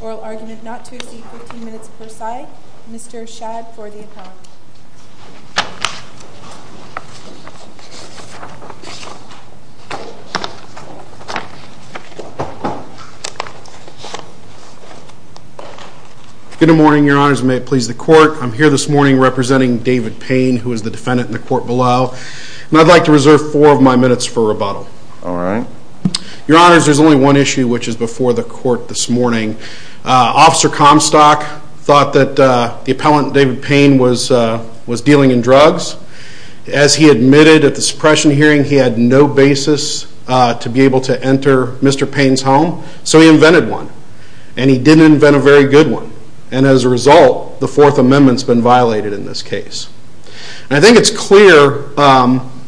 Oral argument not to exceed 15 minutes per side. Mr. Shad for the opponent. Good morning, Your Honors, and may it please the Court, I'm here this morning representing David Payne, who is the defendant in the court below, and I'd like to reserve four of my minutes for rebuttal. All right. Your Honors, there's only one issue which is before the Court this morning. Officer Comstock thought that the appellant, David Payne, was dealing in drugs. As he admitted at the suppression hearing, he had no basis to be able to enter Mr. Payne's home, so he invented one. And he didn't invent a very good one. And as a I think it's clear,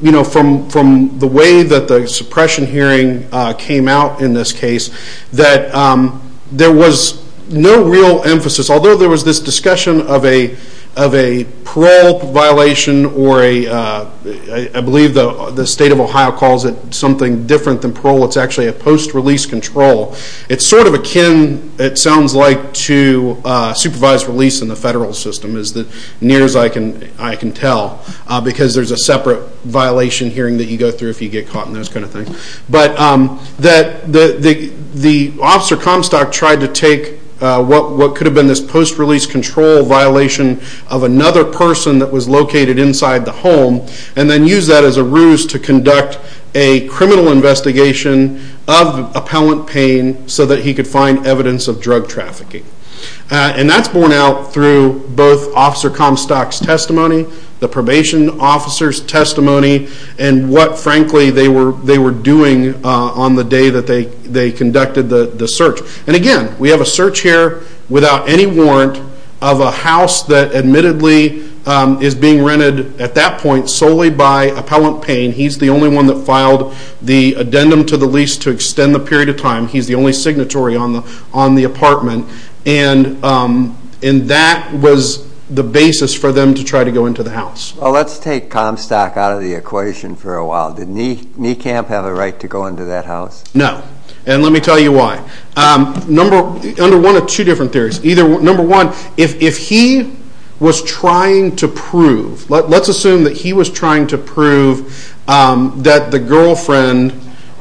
you know, from the way that the suppression hearing came out in this case, that there was no real emphasis, although there was this discussion of a parole violation or a, I believe the state of Ohio calls it something different than parole, it's actually a post-release control. It's sort of akin, it sounds like, to supervised release in the I can tell, because there's a separate violation hearing that you go through if you get caught in those kind of things. But that the Officer Comstock tried to take what could have been this post-release control violation of another person that was located inside the home, and then use that as a ruse to conduct a criminal investigation of appellant Payne so that he could find evidence of drug trafficking. And that's borne out through both Officer Comstock's testimony, the probation officer's testimony, and what frankly they were doing on the day that they conducted the search. And again, we have a search here without any warrant of a house that admittedly is being rented at that point solely by appellant Payne. He's the only one that filed the addendum to the lease to extend the period of time. He's the to go into the house. Well, let's take Comstock out of the equation for a while. Did Kneekamp have a right to go into that house? No. And let me tell you why. Under one of two different theories. Number one, if he was trying to prove, let's assume that he was trying to prove that the girlfriend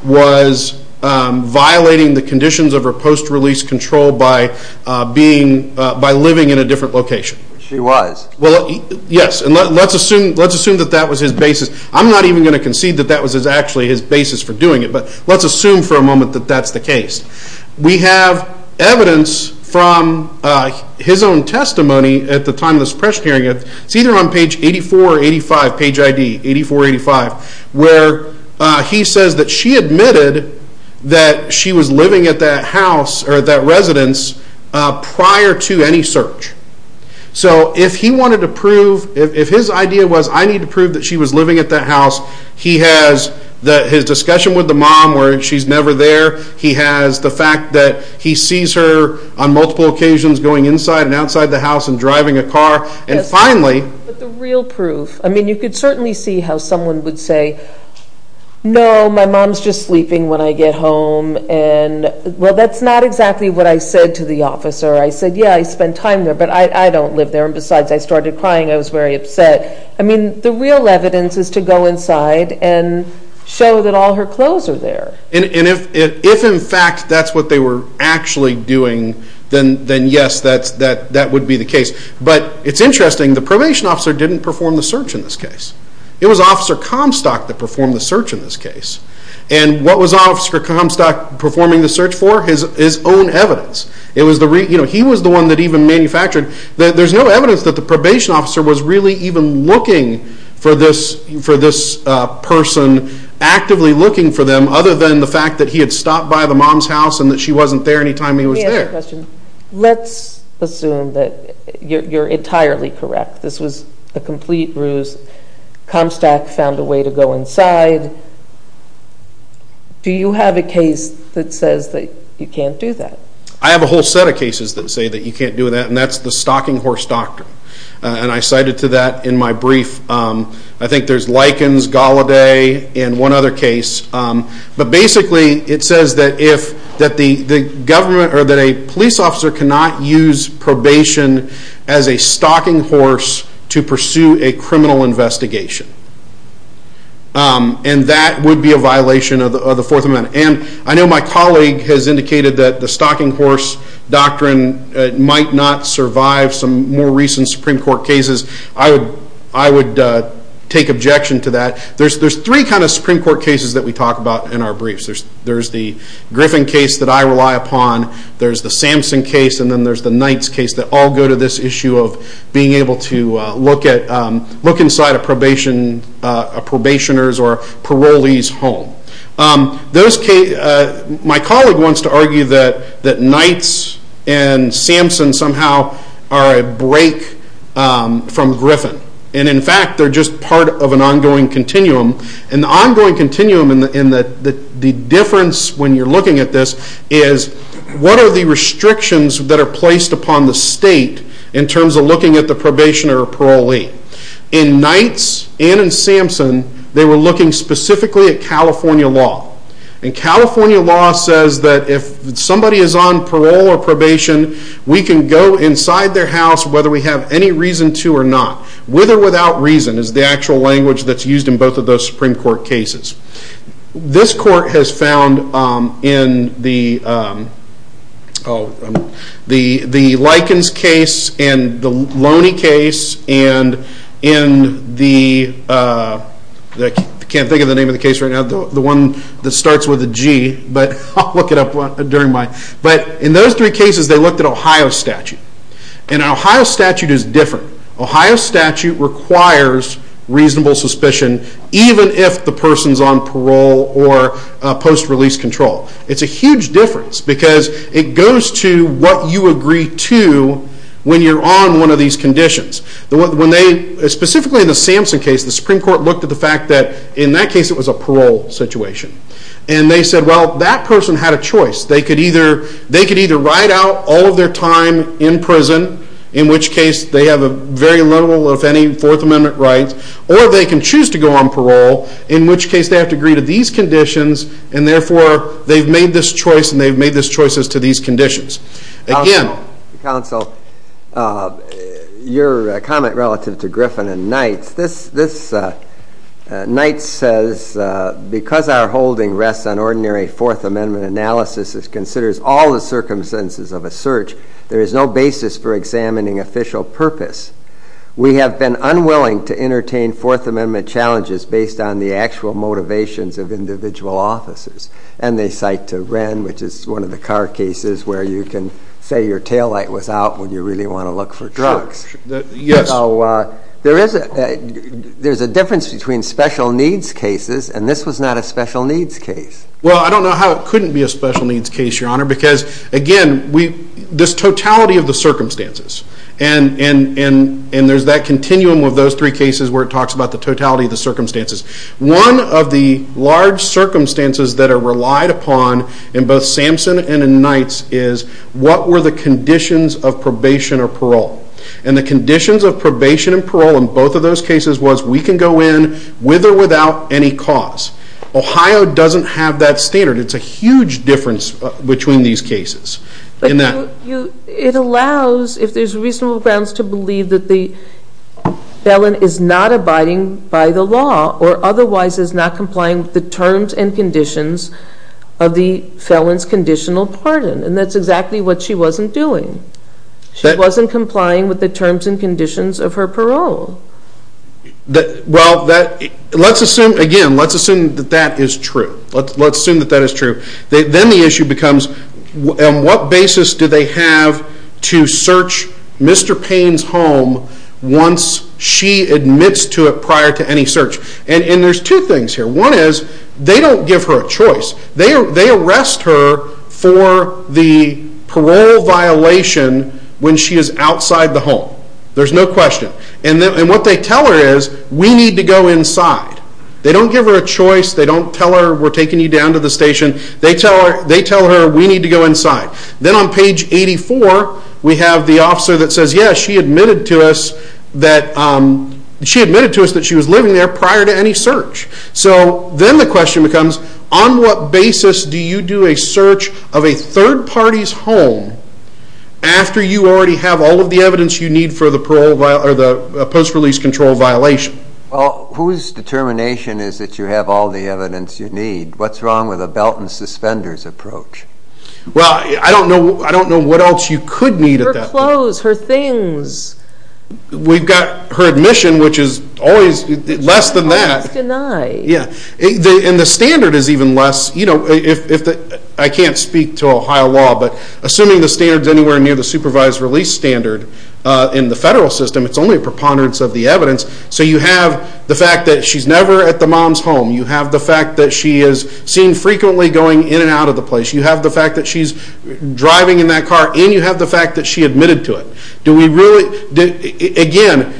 was violating the conditions of her post-release control by living in a different location. She was. Well, yes. And let's assume that that was his basis. I'm not even going to concede that that was actually his basis for doing it, but let's assume for a moment that that's the case. We have evidence from his own testimony at the time of this press hearing. It's either on page 84 or 85, page ID, 84 or 85, where he says that she admitted that she was living at that house or that residence prior to any search. So if he wanted to prove, if his idea was, I need to prove that she was living at that house, he has his discussion with the mom where she's never there. He has the fact that he sees her on multiple occasions going inside and outside the house and driving a car. No, my mom's just sleeping when I get home. Well, that's not exactly what I said to the officer. I said, yeah, I spend time there, but I don't live there. And besides, I started crying. I was very upset. I mean, the real evidence is to go inside and show that all her clothes are there. And if in fact that's what they were actually doing, then yes, that would be the case. But it's interesting, the probation officer didn't perform the search in this case. It was Officer Comstock that performed the search in this case. And what was Officer Comstock performing the search for? His own evidence. He was the one that even manufactured. There's no evidence that the probation officer was really even looking for this person, actively looking for them, other than the fact that he had stopped by the mom's house and that she wasn't there any time he was there. Let's assume that you're entirely correct. This was a complete ruse. Comstock found a way to go inside. Do you have a case that says that you can't do that? I have a whole set of cases that say that you can't do that, and that's the stocking horse doctrine. And I cited to that in my brief. I think there's Likens, Gallaudet, and one other case. But a police officer cannot use probation as a stocking horse to pursue a criminal investigation. And that would be a violation of the Fourth Amendment. And I know my colleague has indicated that the stocking horse doctrine might not survive some more recent Supreme Court cases. I would take objection to that. There's three kind of Supreme Court cases that we talk about in our briefs. There's the Griffin case that I rely upon, there's the Samson case, and then there's the Knights case that all go to this issue of being able to look inside a probationer's or parolee's home. My colleague wants to argue that Knights and Samson somehow are a break from Griffin. And in fact, they're just part of an ongoing continuum. And the difference when you're looking at this is, what are the restrictions that are placed upon the state in terms of looking at the probationer or parolee? In Knights and in Samson, they were looking specifically at California law. And California law says that if somebody is on parole or probation, we can go inside their house whether we have any reason to or not. With or without reason is the actual language that's used in both of those Supreme Court cases. This court has found in the Likens case and the Loney case and in the, I can't think of the name of the case right now, the one that starts with a G, but I'll look it up during my, but in those three cases, they looked at Ohio statute is different. Ohio statute requires reasonable suspicion even if the person's on parole or post-release control. It's a huge difference because it goes to what you agree to when you're on one of these conditions. When they, specifically in the Samson case, the Supreme Court looked at the fact that in that case it was a parole situation. And they said, well, that person had a choice. They could either ride out all of their time in prison, in which case they have a very little, if any, Fourth Amendment right, or they can choose to go on parole, in which case they have to agree to these conditions and therefore they've made this choice and they've made these choices to these conditions. Again. Counsel, your comment relative to Griffin and Knight's, this, Knight's says, because our holding rests on ordinary Fourth Amendment analysis, it considers all the circumstances of a search. There is no basis for examining official purpose. We have been unwilling to entertain Fourth Amendment challenges based on the actual motivations of individual officers. And they cite to Wren, which is one of the car cases where you can say your taillight was out when you really want to look for drugs. Yes. So there is a, there's a difference between special needs cases and this was not a special needs case. Well, I don't know how it couldn't be a special needs case, your honor, because again, we, this totality of the circumstances and, and, and, and there's that continuum of those three cases where it talks about the totality of the circumstances. One of the large circumstances that are relied upon in both Samson and in Knight's is what were the conditions of probation or parole? And the conditions of probation and parole in both of those cases was we can go in with or without any cause. Ohio doesn't have that standard. It's a huge difference between these cases. But you, it allows, if there's reasonable grounds to believe that the felon is not abiding by the law or otherwise is not complying with the terms and conditions of the felon's conditional pardon. And that's exactly what she wasn't doing. She wasn't complying with the terms and conditions of her parole. Well, that, let's assume, again, let's assume that that is true. Let's assume that that is true. Then the issue becomes on what basis do they have to search Mr. Payne's home once she admits to it prior to any search? And there's two things here. One is they don't give her a choice. They arrest her for the parole violation when she is outside the home. There's no question. And what they tell her is, we need to go inside. They don't give her a choice. They don't tell her, we're taking you down to the station. They tell her, we need to go inside. Then on page 84, we have the officer that says, yes, she admitted to us that, she admitted to us that she was living there prior to any search. So then the question becomes, on what basis do you do a search of a third party's home after you already have all of the evidence you need for the post-release control violation? Well, whose determination is that you have all the evidence you need? What's wrong with a belt and suspenders approach? Well, I don't know what else you could need at that point. Her clothes, her things. We've got her admission, which is always less than that. She's always denied. Yeah. And the standard is even less. You know, I can't speak to Ohio law, but assuming the supervised release standard in the federal system, it's only a preponderance of the evidence. So you have the fact that she's never at the mom's home. You have the fact that she is seen frequently going in and out of the place. You have the fact that she's driving in that car, and you have the fact that she admitted to it. Do we really... Again,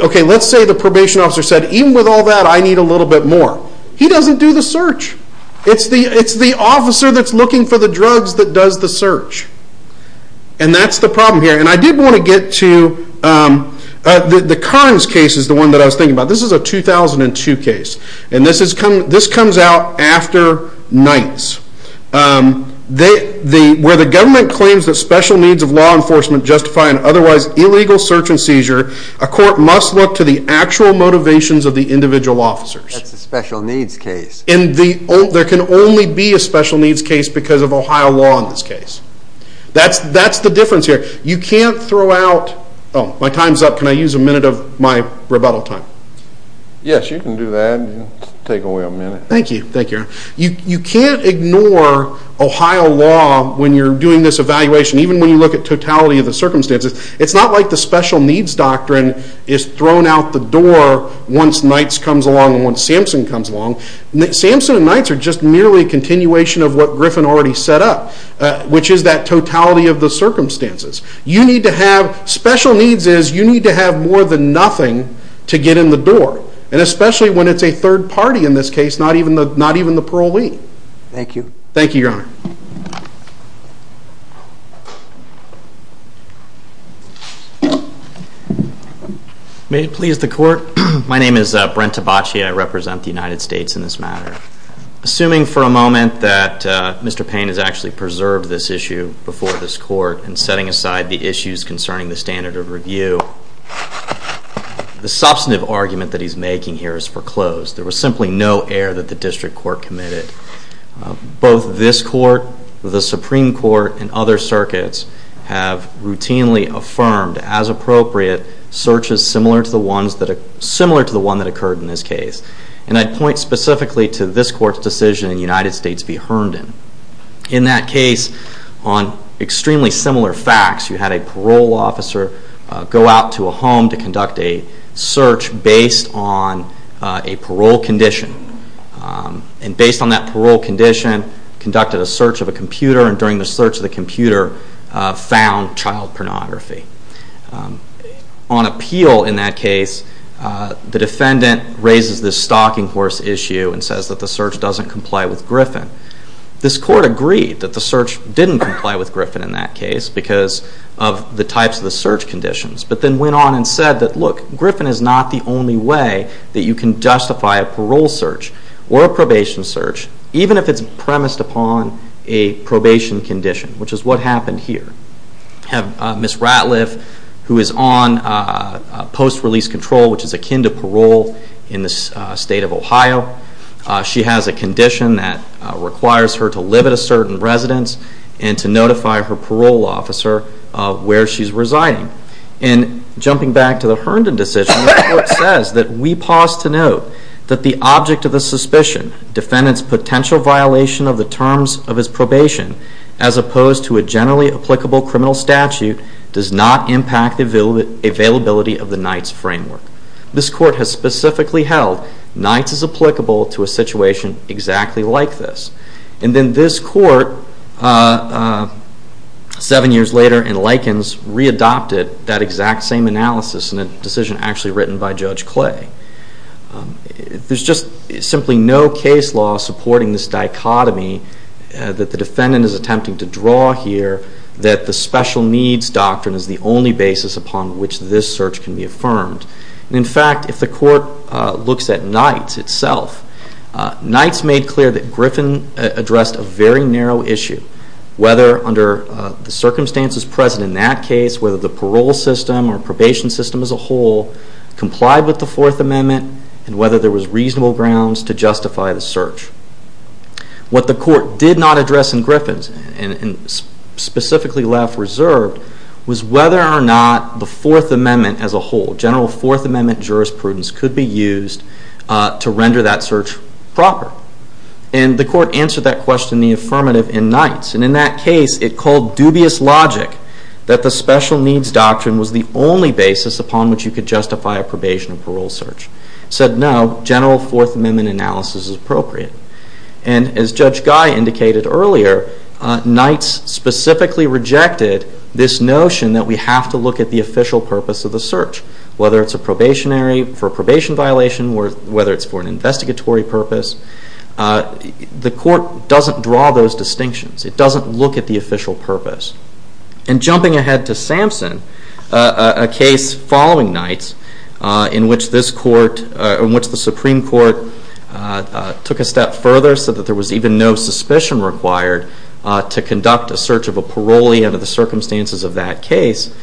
okay, let's say the probation officer said, even with all that, I need a little bit more. He doesn't do the search. It's the officer that's looking for the drugs that does the search. And that's the problem here. And I did want to get to... The Karnes case is the one that I was thinking about. This is a 2002 case. And this comes out after nights, where the government claims that special needs of law enforcement justify an otherwise illegal search and seizure. A court must look to the actual motivations of the individual officers. That's a special needs case. There can only be a special needs case because of Ohio law in this case. That's the difference here. You can't throw out... Oh, my time's up. Can I use a minute of my rebuttal time? Yes, you can do that. Take away a minute. Thank you. Thank you. You can't ignore Ohio law when you're doing this evaluation, even when you look at totality of the circumstances. It's not like the special needs doctrine is thrown out the door once nights comes along and once Samson comes along. Samson and nights are just merely a continuation of what Griffin already set up, which is that totality of the circumstances. You need to have... Special needs is you need to have more than nothing to get in the door, and especially when it's a third party in this case, not even the parolee. Thank you. Thank you, Your Honor. May it please the court. My name is Brent Tabachi. I represent the United States in this matter. Assuming for a moment that Mr. Payne has actually preserved this issue before this court and setting aside the issues concerning the standard of review, the substantive argument that he's making here is foreclosed. There was simply no error that the district court committed. Both this court, the Supreme Court, and other circuits have routinely affirmed, as appropriate, searches similar to the one that occurred in this case. And I'd point specifically to this court's decision in United States v. Herndon. In that case, on extremely similar facts, you had a parole officer go out to a home to conduct a search based on a parole condition. And based on that parole condition, conducted a search of a computer, and during the search of the computer, found child pornography. On appeal in that case, the defendant raises this stalking horse issue and says that the search doesn't comply with Griffin. This court agreed that the search didn't comply with Griffin in that case because of the types of the search conditions, but then went on and said that, look, Griffin is not the only way that you can justify a parole search or a probation search, even if it's premised upon a probation condition, which is what happened here. Ms. Ratliff, who is on post-release control, which is akin to parole in the state of Ohio, she has a condition that requires her to live at a certain residence and to notify her parole officer where she's residing. And jumping back to the Herndon decision, the court says that we pause to note that the object of the suspicion, defendant's potential violation of the terms of his probation, as opposed to a generally applicable criminal statute, does not impact the availability of the Nights framework. This court has specifically held Nights is applicable to a situation exactly like this. And then this court, seven years later in Likens, re-adopted that exact same analysis in a decision actually written by Judge Clay. There's just simply no case law supporting this dichotomy that the defendant is attempting to draw here that the special needs doctrine is the only basis upon which this search can be affirmed. In fact, if the court looks at Nights itself, Nights made clear that Griffin addressed a very narrow issue, whether under the circumstances present in that case, whether the parole system or probation system as a whole complied with the Fourth Amendment and whether there was reasonable grounds to justify the search. What the court did not address in Griffin's, and specifically left reserved, was whether or not the Fourth Amendment as a whole, general Fourth Amendment jurisprudence, could be used to render that search proper. And the court answered that question in the affirmative in Nights. And in that case, it called dubious logic that the special needs doctrine was the only basis upon which you could justify a probation and parole search. It said, no, general Fourth Amendment analysis is appropriate. And as Judge Guy indicated earlier, Nights specifically rejected this notion that we have to look at the official purpose of the search, whether it's for a probation violation or whether it's for an investigatory purpose. The court doesn't draw those distinctions. It doesn't look at the official purpose. And jumping ahead to Sampson, a case following Nights in which this court, in which the Supreme Court took a step further so that there was even no suspicion required to conduct a search of a parolee under the circumstances of that case,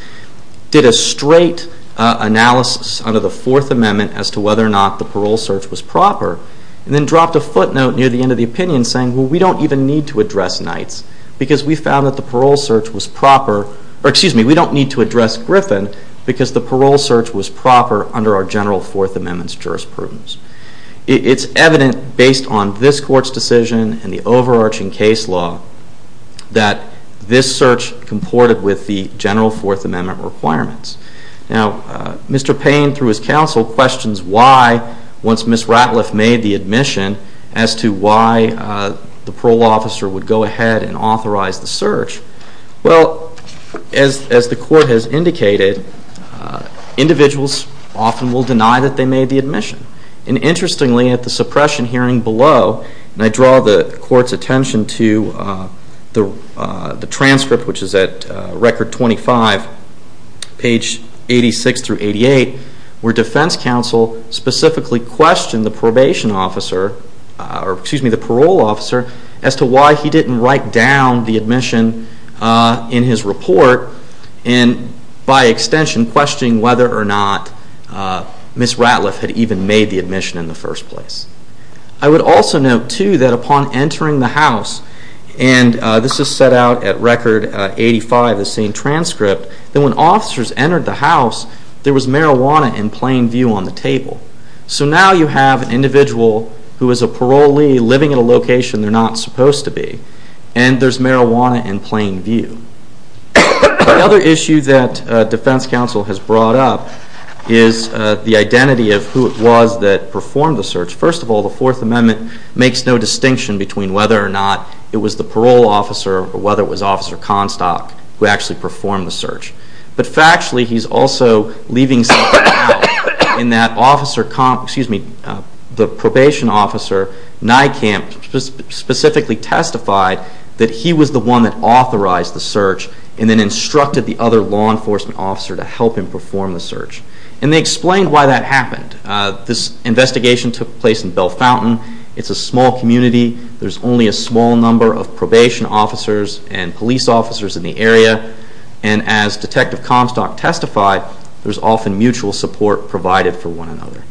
did a straight analysis under the Fourth Amendment as to whether or not the parole search was proper and then dropped a footnote near the end of the opinion saying, well, we don't even need to address Nights because we found that the parole search was proper, or excuse me, we don't need to address Griffin because the parole search was proper under our general Fourth Amendment's jurisprudence. It's evident based on this court's decision and the overarching case law that this search comported with the general Fourth Amendment requirements. Now, Mr. Payne, through his counsel, questions why, once Ms. Ratliff made the admission, as to why the parole officer would go ahead and authorize the search. Well, as the court has indicated, individuals often will deny that they made the admission. And interestingly, at the suppression hearing below, and I draw the court's attention to the transcript, which is at Record 25, page 86 through 88, where defense counsel specifically questioned the probation officer, or excuse me, the parole officer, as to why he didn't write down the admission in his report and, by extension, questioning whether or not Ms. Ratliff had even made the admission in the first place. I would also note, too, that upon entering the house, and this is set out at Record 85, the same transcript, that when officers entered the house, there was marijuana in plain view on the table. So now you have an individual who is a parolee living in a location they're not supposed to be, and there's marijuana in plain view. Another issue that defense counsel has brought up is the identity of who it was that performed the search. First of all, the Fourth Amendment makes no distinction between whether or not it was the parole officer or whether it was Officer Constock who actually performed the search. But factually, he's also leaving some doubt in that the probation officer, Nijkamp, specifically testified that he was the one that authorized the search and then instructed the other law enforcement officer to help him perform the search. And they explained why that happened. This investigation took place in Bellefontaine. It's a small community. There's only a small number of probation officers and police officers in the area. And as Detective Constock testified, there's often mutual support provided for one another.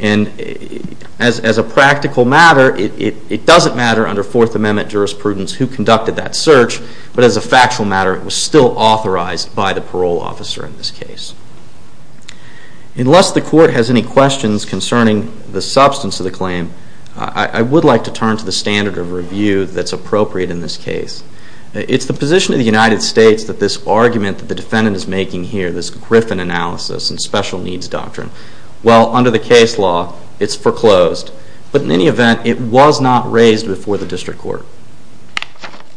And as a practical matter, it doesn't matter under Fourth Amendment jurisprudence who conducted that search, but as a factual matter, it was still authorized by the parole officer in this case. Unless the court has any questions concerning the substance of the claim, I would like to turn to the standard of review that's appropriate in this case. It's the position of the United States that this argument that the defendant is making here, this Griffin analysis and special needs doctrine, well, under the case law, it's foreclosed. But in any event, it was not raised before the district court.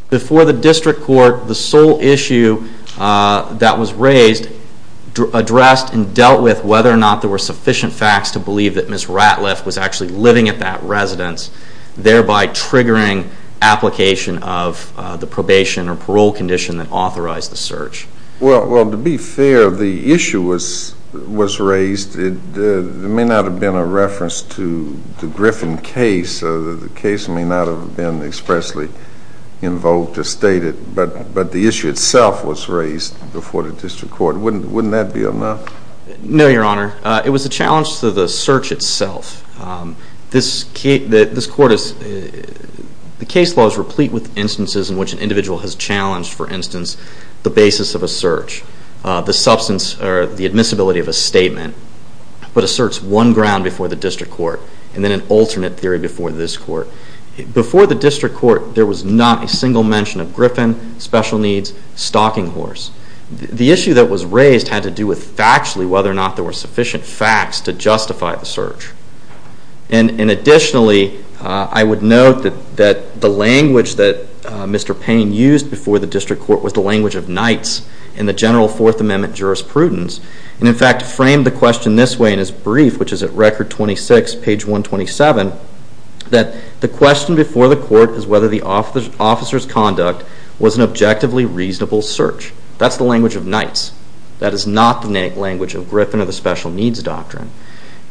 Before the district court, the sole issue that was raised addressed and dealt with whether or not there were sufficient facts to believe that Ms. Ratliff was actually living at that residence, thereby triggering application of the probation or parole condition that authorized the search. Well, to be fair, the issue was raised. It may not have been a reference to the Griffin case. The case may not have been expressly invoked or stated, but the issue itself was raised before the district court. Wouldn't that be enough? No, Your Honor. It was a challenge to the search itself. This court is, the case law is replete with instances in which an individual has challenged, for instance, the basis of a search, the substance or the admissibility of a statement, but asserts one ground before the district court and then an alternate theory before this court. Before the district court, there was not a single mention of Griffin, special needs, stalking horse. The issue that was raised had to do with factually whether or not there were sufficient facts to justify the search. And additionally, I would note that the language that Mr. Payne used before the district court was the language of knights in the general Fourth Amendment jurisprudence, and in fact framed the question this way in his brief, which is at Record 26, page 127, that the question before the court is whether the officer's conduct was an objectively reasonable search. That's the language of knights. That is not the language of Griffin or the special needs doctrine.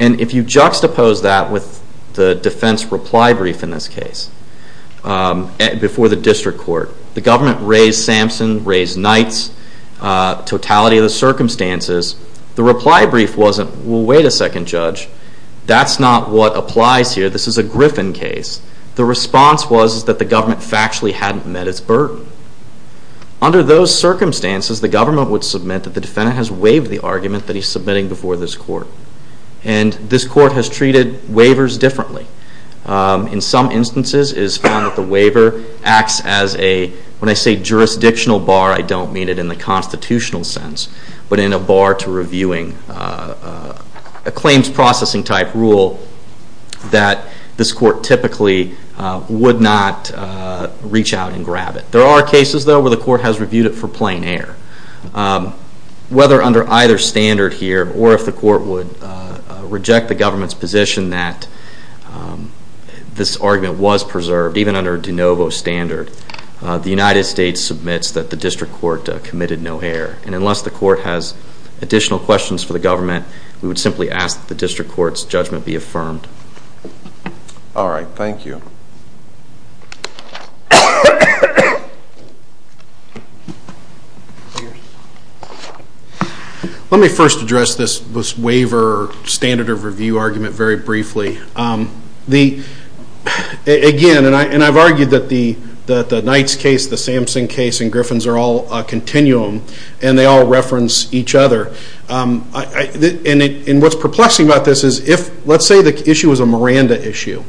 And if you juxtapose that with the defense reply brief in this case before the district court, the government raised Samson, raised Knights, totality of the circumstances, the reply brief wasn't, well, wait a second, Judge, that's not what applies here. This is a Griffin case. The response was that the government factually hadn't met its burden. Under those circumstances, the government would submit that the defendant has waived the argument that he's submitting before this court. And this court has treated waivers differently. In some instances, it is found that the waiver acts as a, when I say jurisdictional bar, I don't mean it in the constitutional sense, but in a bar to reviewing a claims processing type rule that this court typically would not reach out and grab it. There are cases, though, where the court has reviewed it for plain error. Whether under either standard here or if the court would reject the government's position that this argument was preserved, even under de novo standard, the United States submits that the district court committed no error. And unless the court has additional questions for the government, we would simply ask that the district court's judgment be affirmed. All right. Thank you. Let me first address this waiver standard of review argument very briefly. Again, and I've argued that the Knight's case, the Samson case, and Griffin's are all a continuum, and they all reference each other. And what's perplexing about this is if, let's say the issue was a Miranda issue,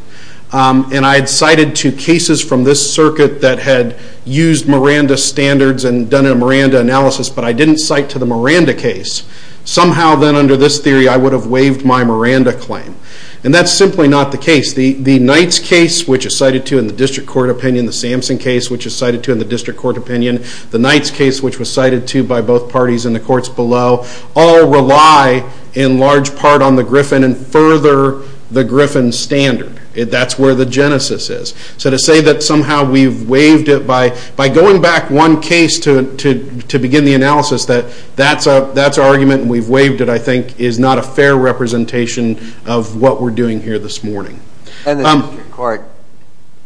and I had cited two cases from this circuit that had used Miranda standards and done a Miranda analysis, but I didn't cite to the Miranda case. Somehow then under this theory, I would have waived my Miranda claim. And that's simply not the case. The Knight's case, which is cited to in the district court opinion, the Samson case, which is cited to in the district court opinion, the Knight's case, which was cited to by both parties in the courts below, all rely in large part on the Griffin and further the Griffin standard. That's where the genesis is. So to say that somehow we've waived it by going back one case to begin the analysis, that that's our argument and we've waived it, I think, is not a fair representation of what we're doing here this morning. And the district court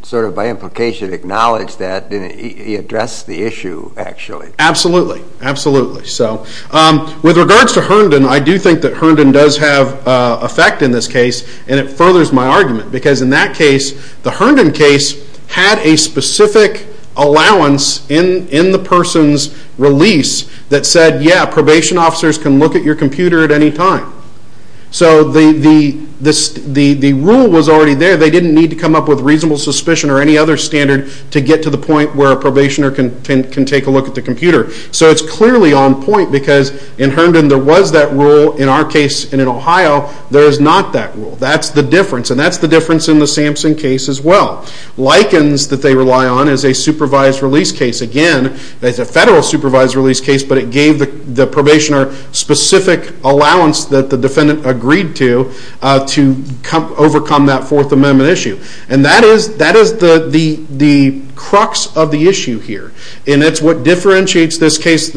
sort of by implication acknowledged that. He addressed the issue, actually. Absolutely. Absolutely. With regards to Herndon, I do think that Herndon does have effect in this case, and it furthers my argument because in that case, the Herndon case had a specific allowance in the person's release that said, yeah, probation officers can look at your computer at any time. So the rule was already there. They didn't need to come up with reasonable suspicion or any other standard to get to the point where a probationer can take a look at the computer. So it's clearly on point because in Herndon there was that rule. In our case and in Ohio, there is not that rule. That's the difference, and that's the difference in the Samson case as well. Likens that they rely on is a supervised release case. Again, it's a federal supervised release case, but it gave the probationer specific allowance that the defendant agreed to to overcome that Fourth Amendment issue. And that is the crux of the issue here, and it's what differentiates this case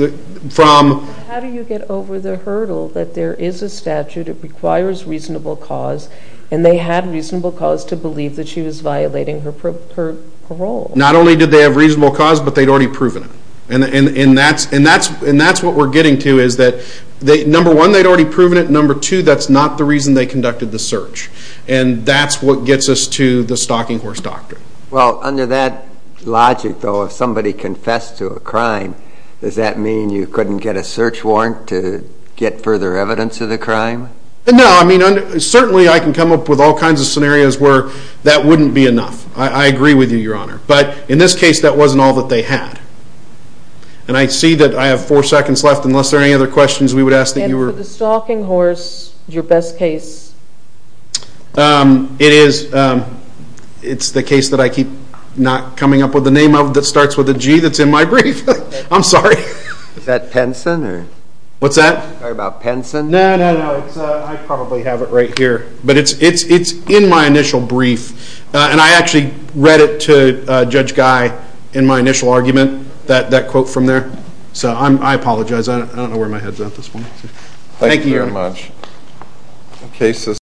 from— How do you get over the hurdle that there is a statute, it requires reasonable cause, and they had reasonable cause to believe that she was violating her parole? Not only did they have reasonable cause, but they'd already proven it. And that's what we're getting to, is that number one, they'd already proven it, and number two, that's not the reason they conducted the search. And that's what gets us to the stalking horse doctrine. Well, under that logic, though, if somebody confessed to a crime, does that mean you couldn't get a search warrant to get further evidence of the crime? No, I mean, certainly I can come up with all kinds of scenarios where that wouldn't be enough. I agree with you, Your Honor. But in this case, that wasn't all that they had. And I see that I have four seconds left. Unless there are any other questions, we would ask that you were— And for the stalking horse, your best case? It's the case that I keep not coming up with the name of that starts with a G that's in my brief. I'm sorry. Is that Penson? What's that? Sorry, about Penson? No, no, no. I probably have it right here. But it's in my initial brief, and I actually read it to Judge Guy in my initial argument, that quote from there. So I apologize. I don't know where my head's at this point. Thank you, Your Honor. Thank you very much.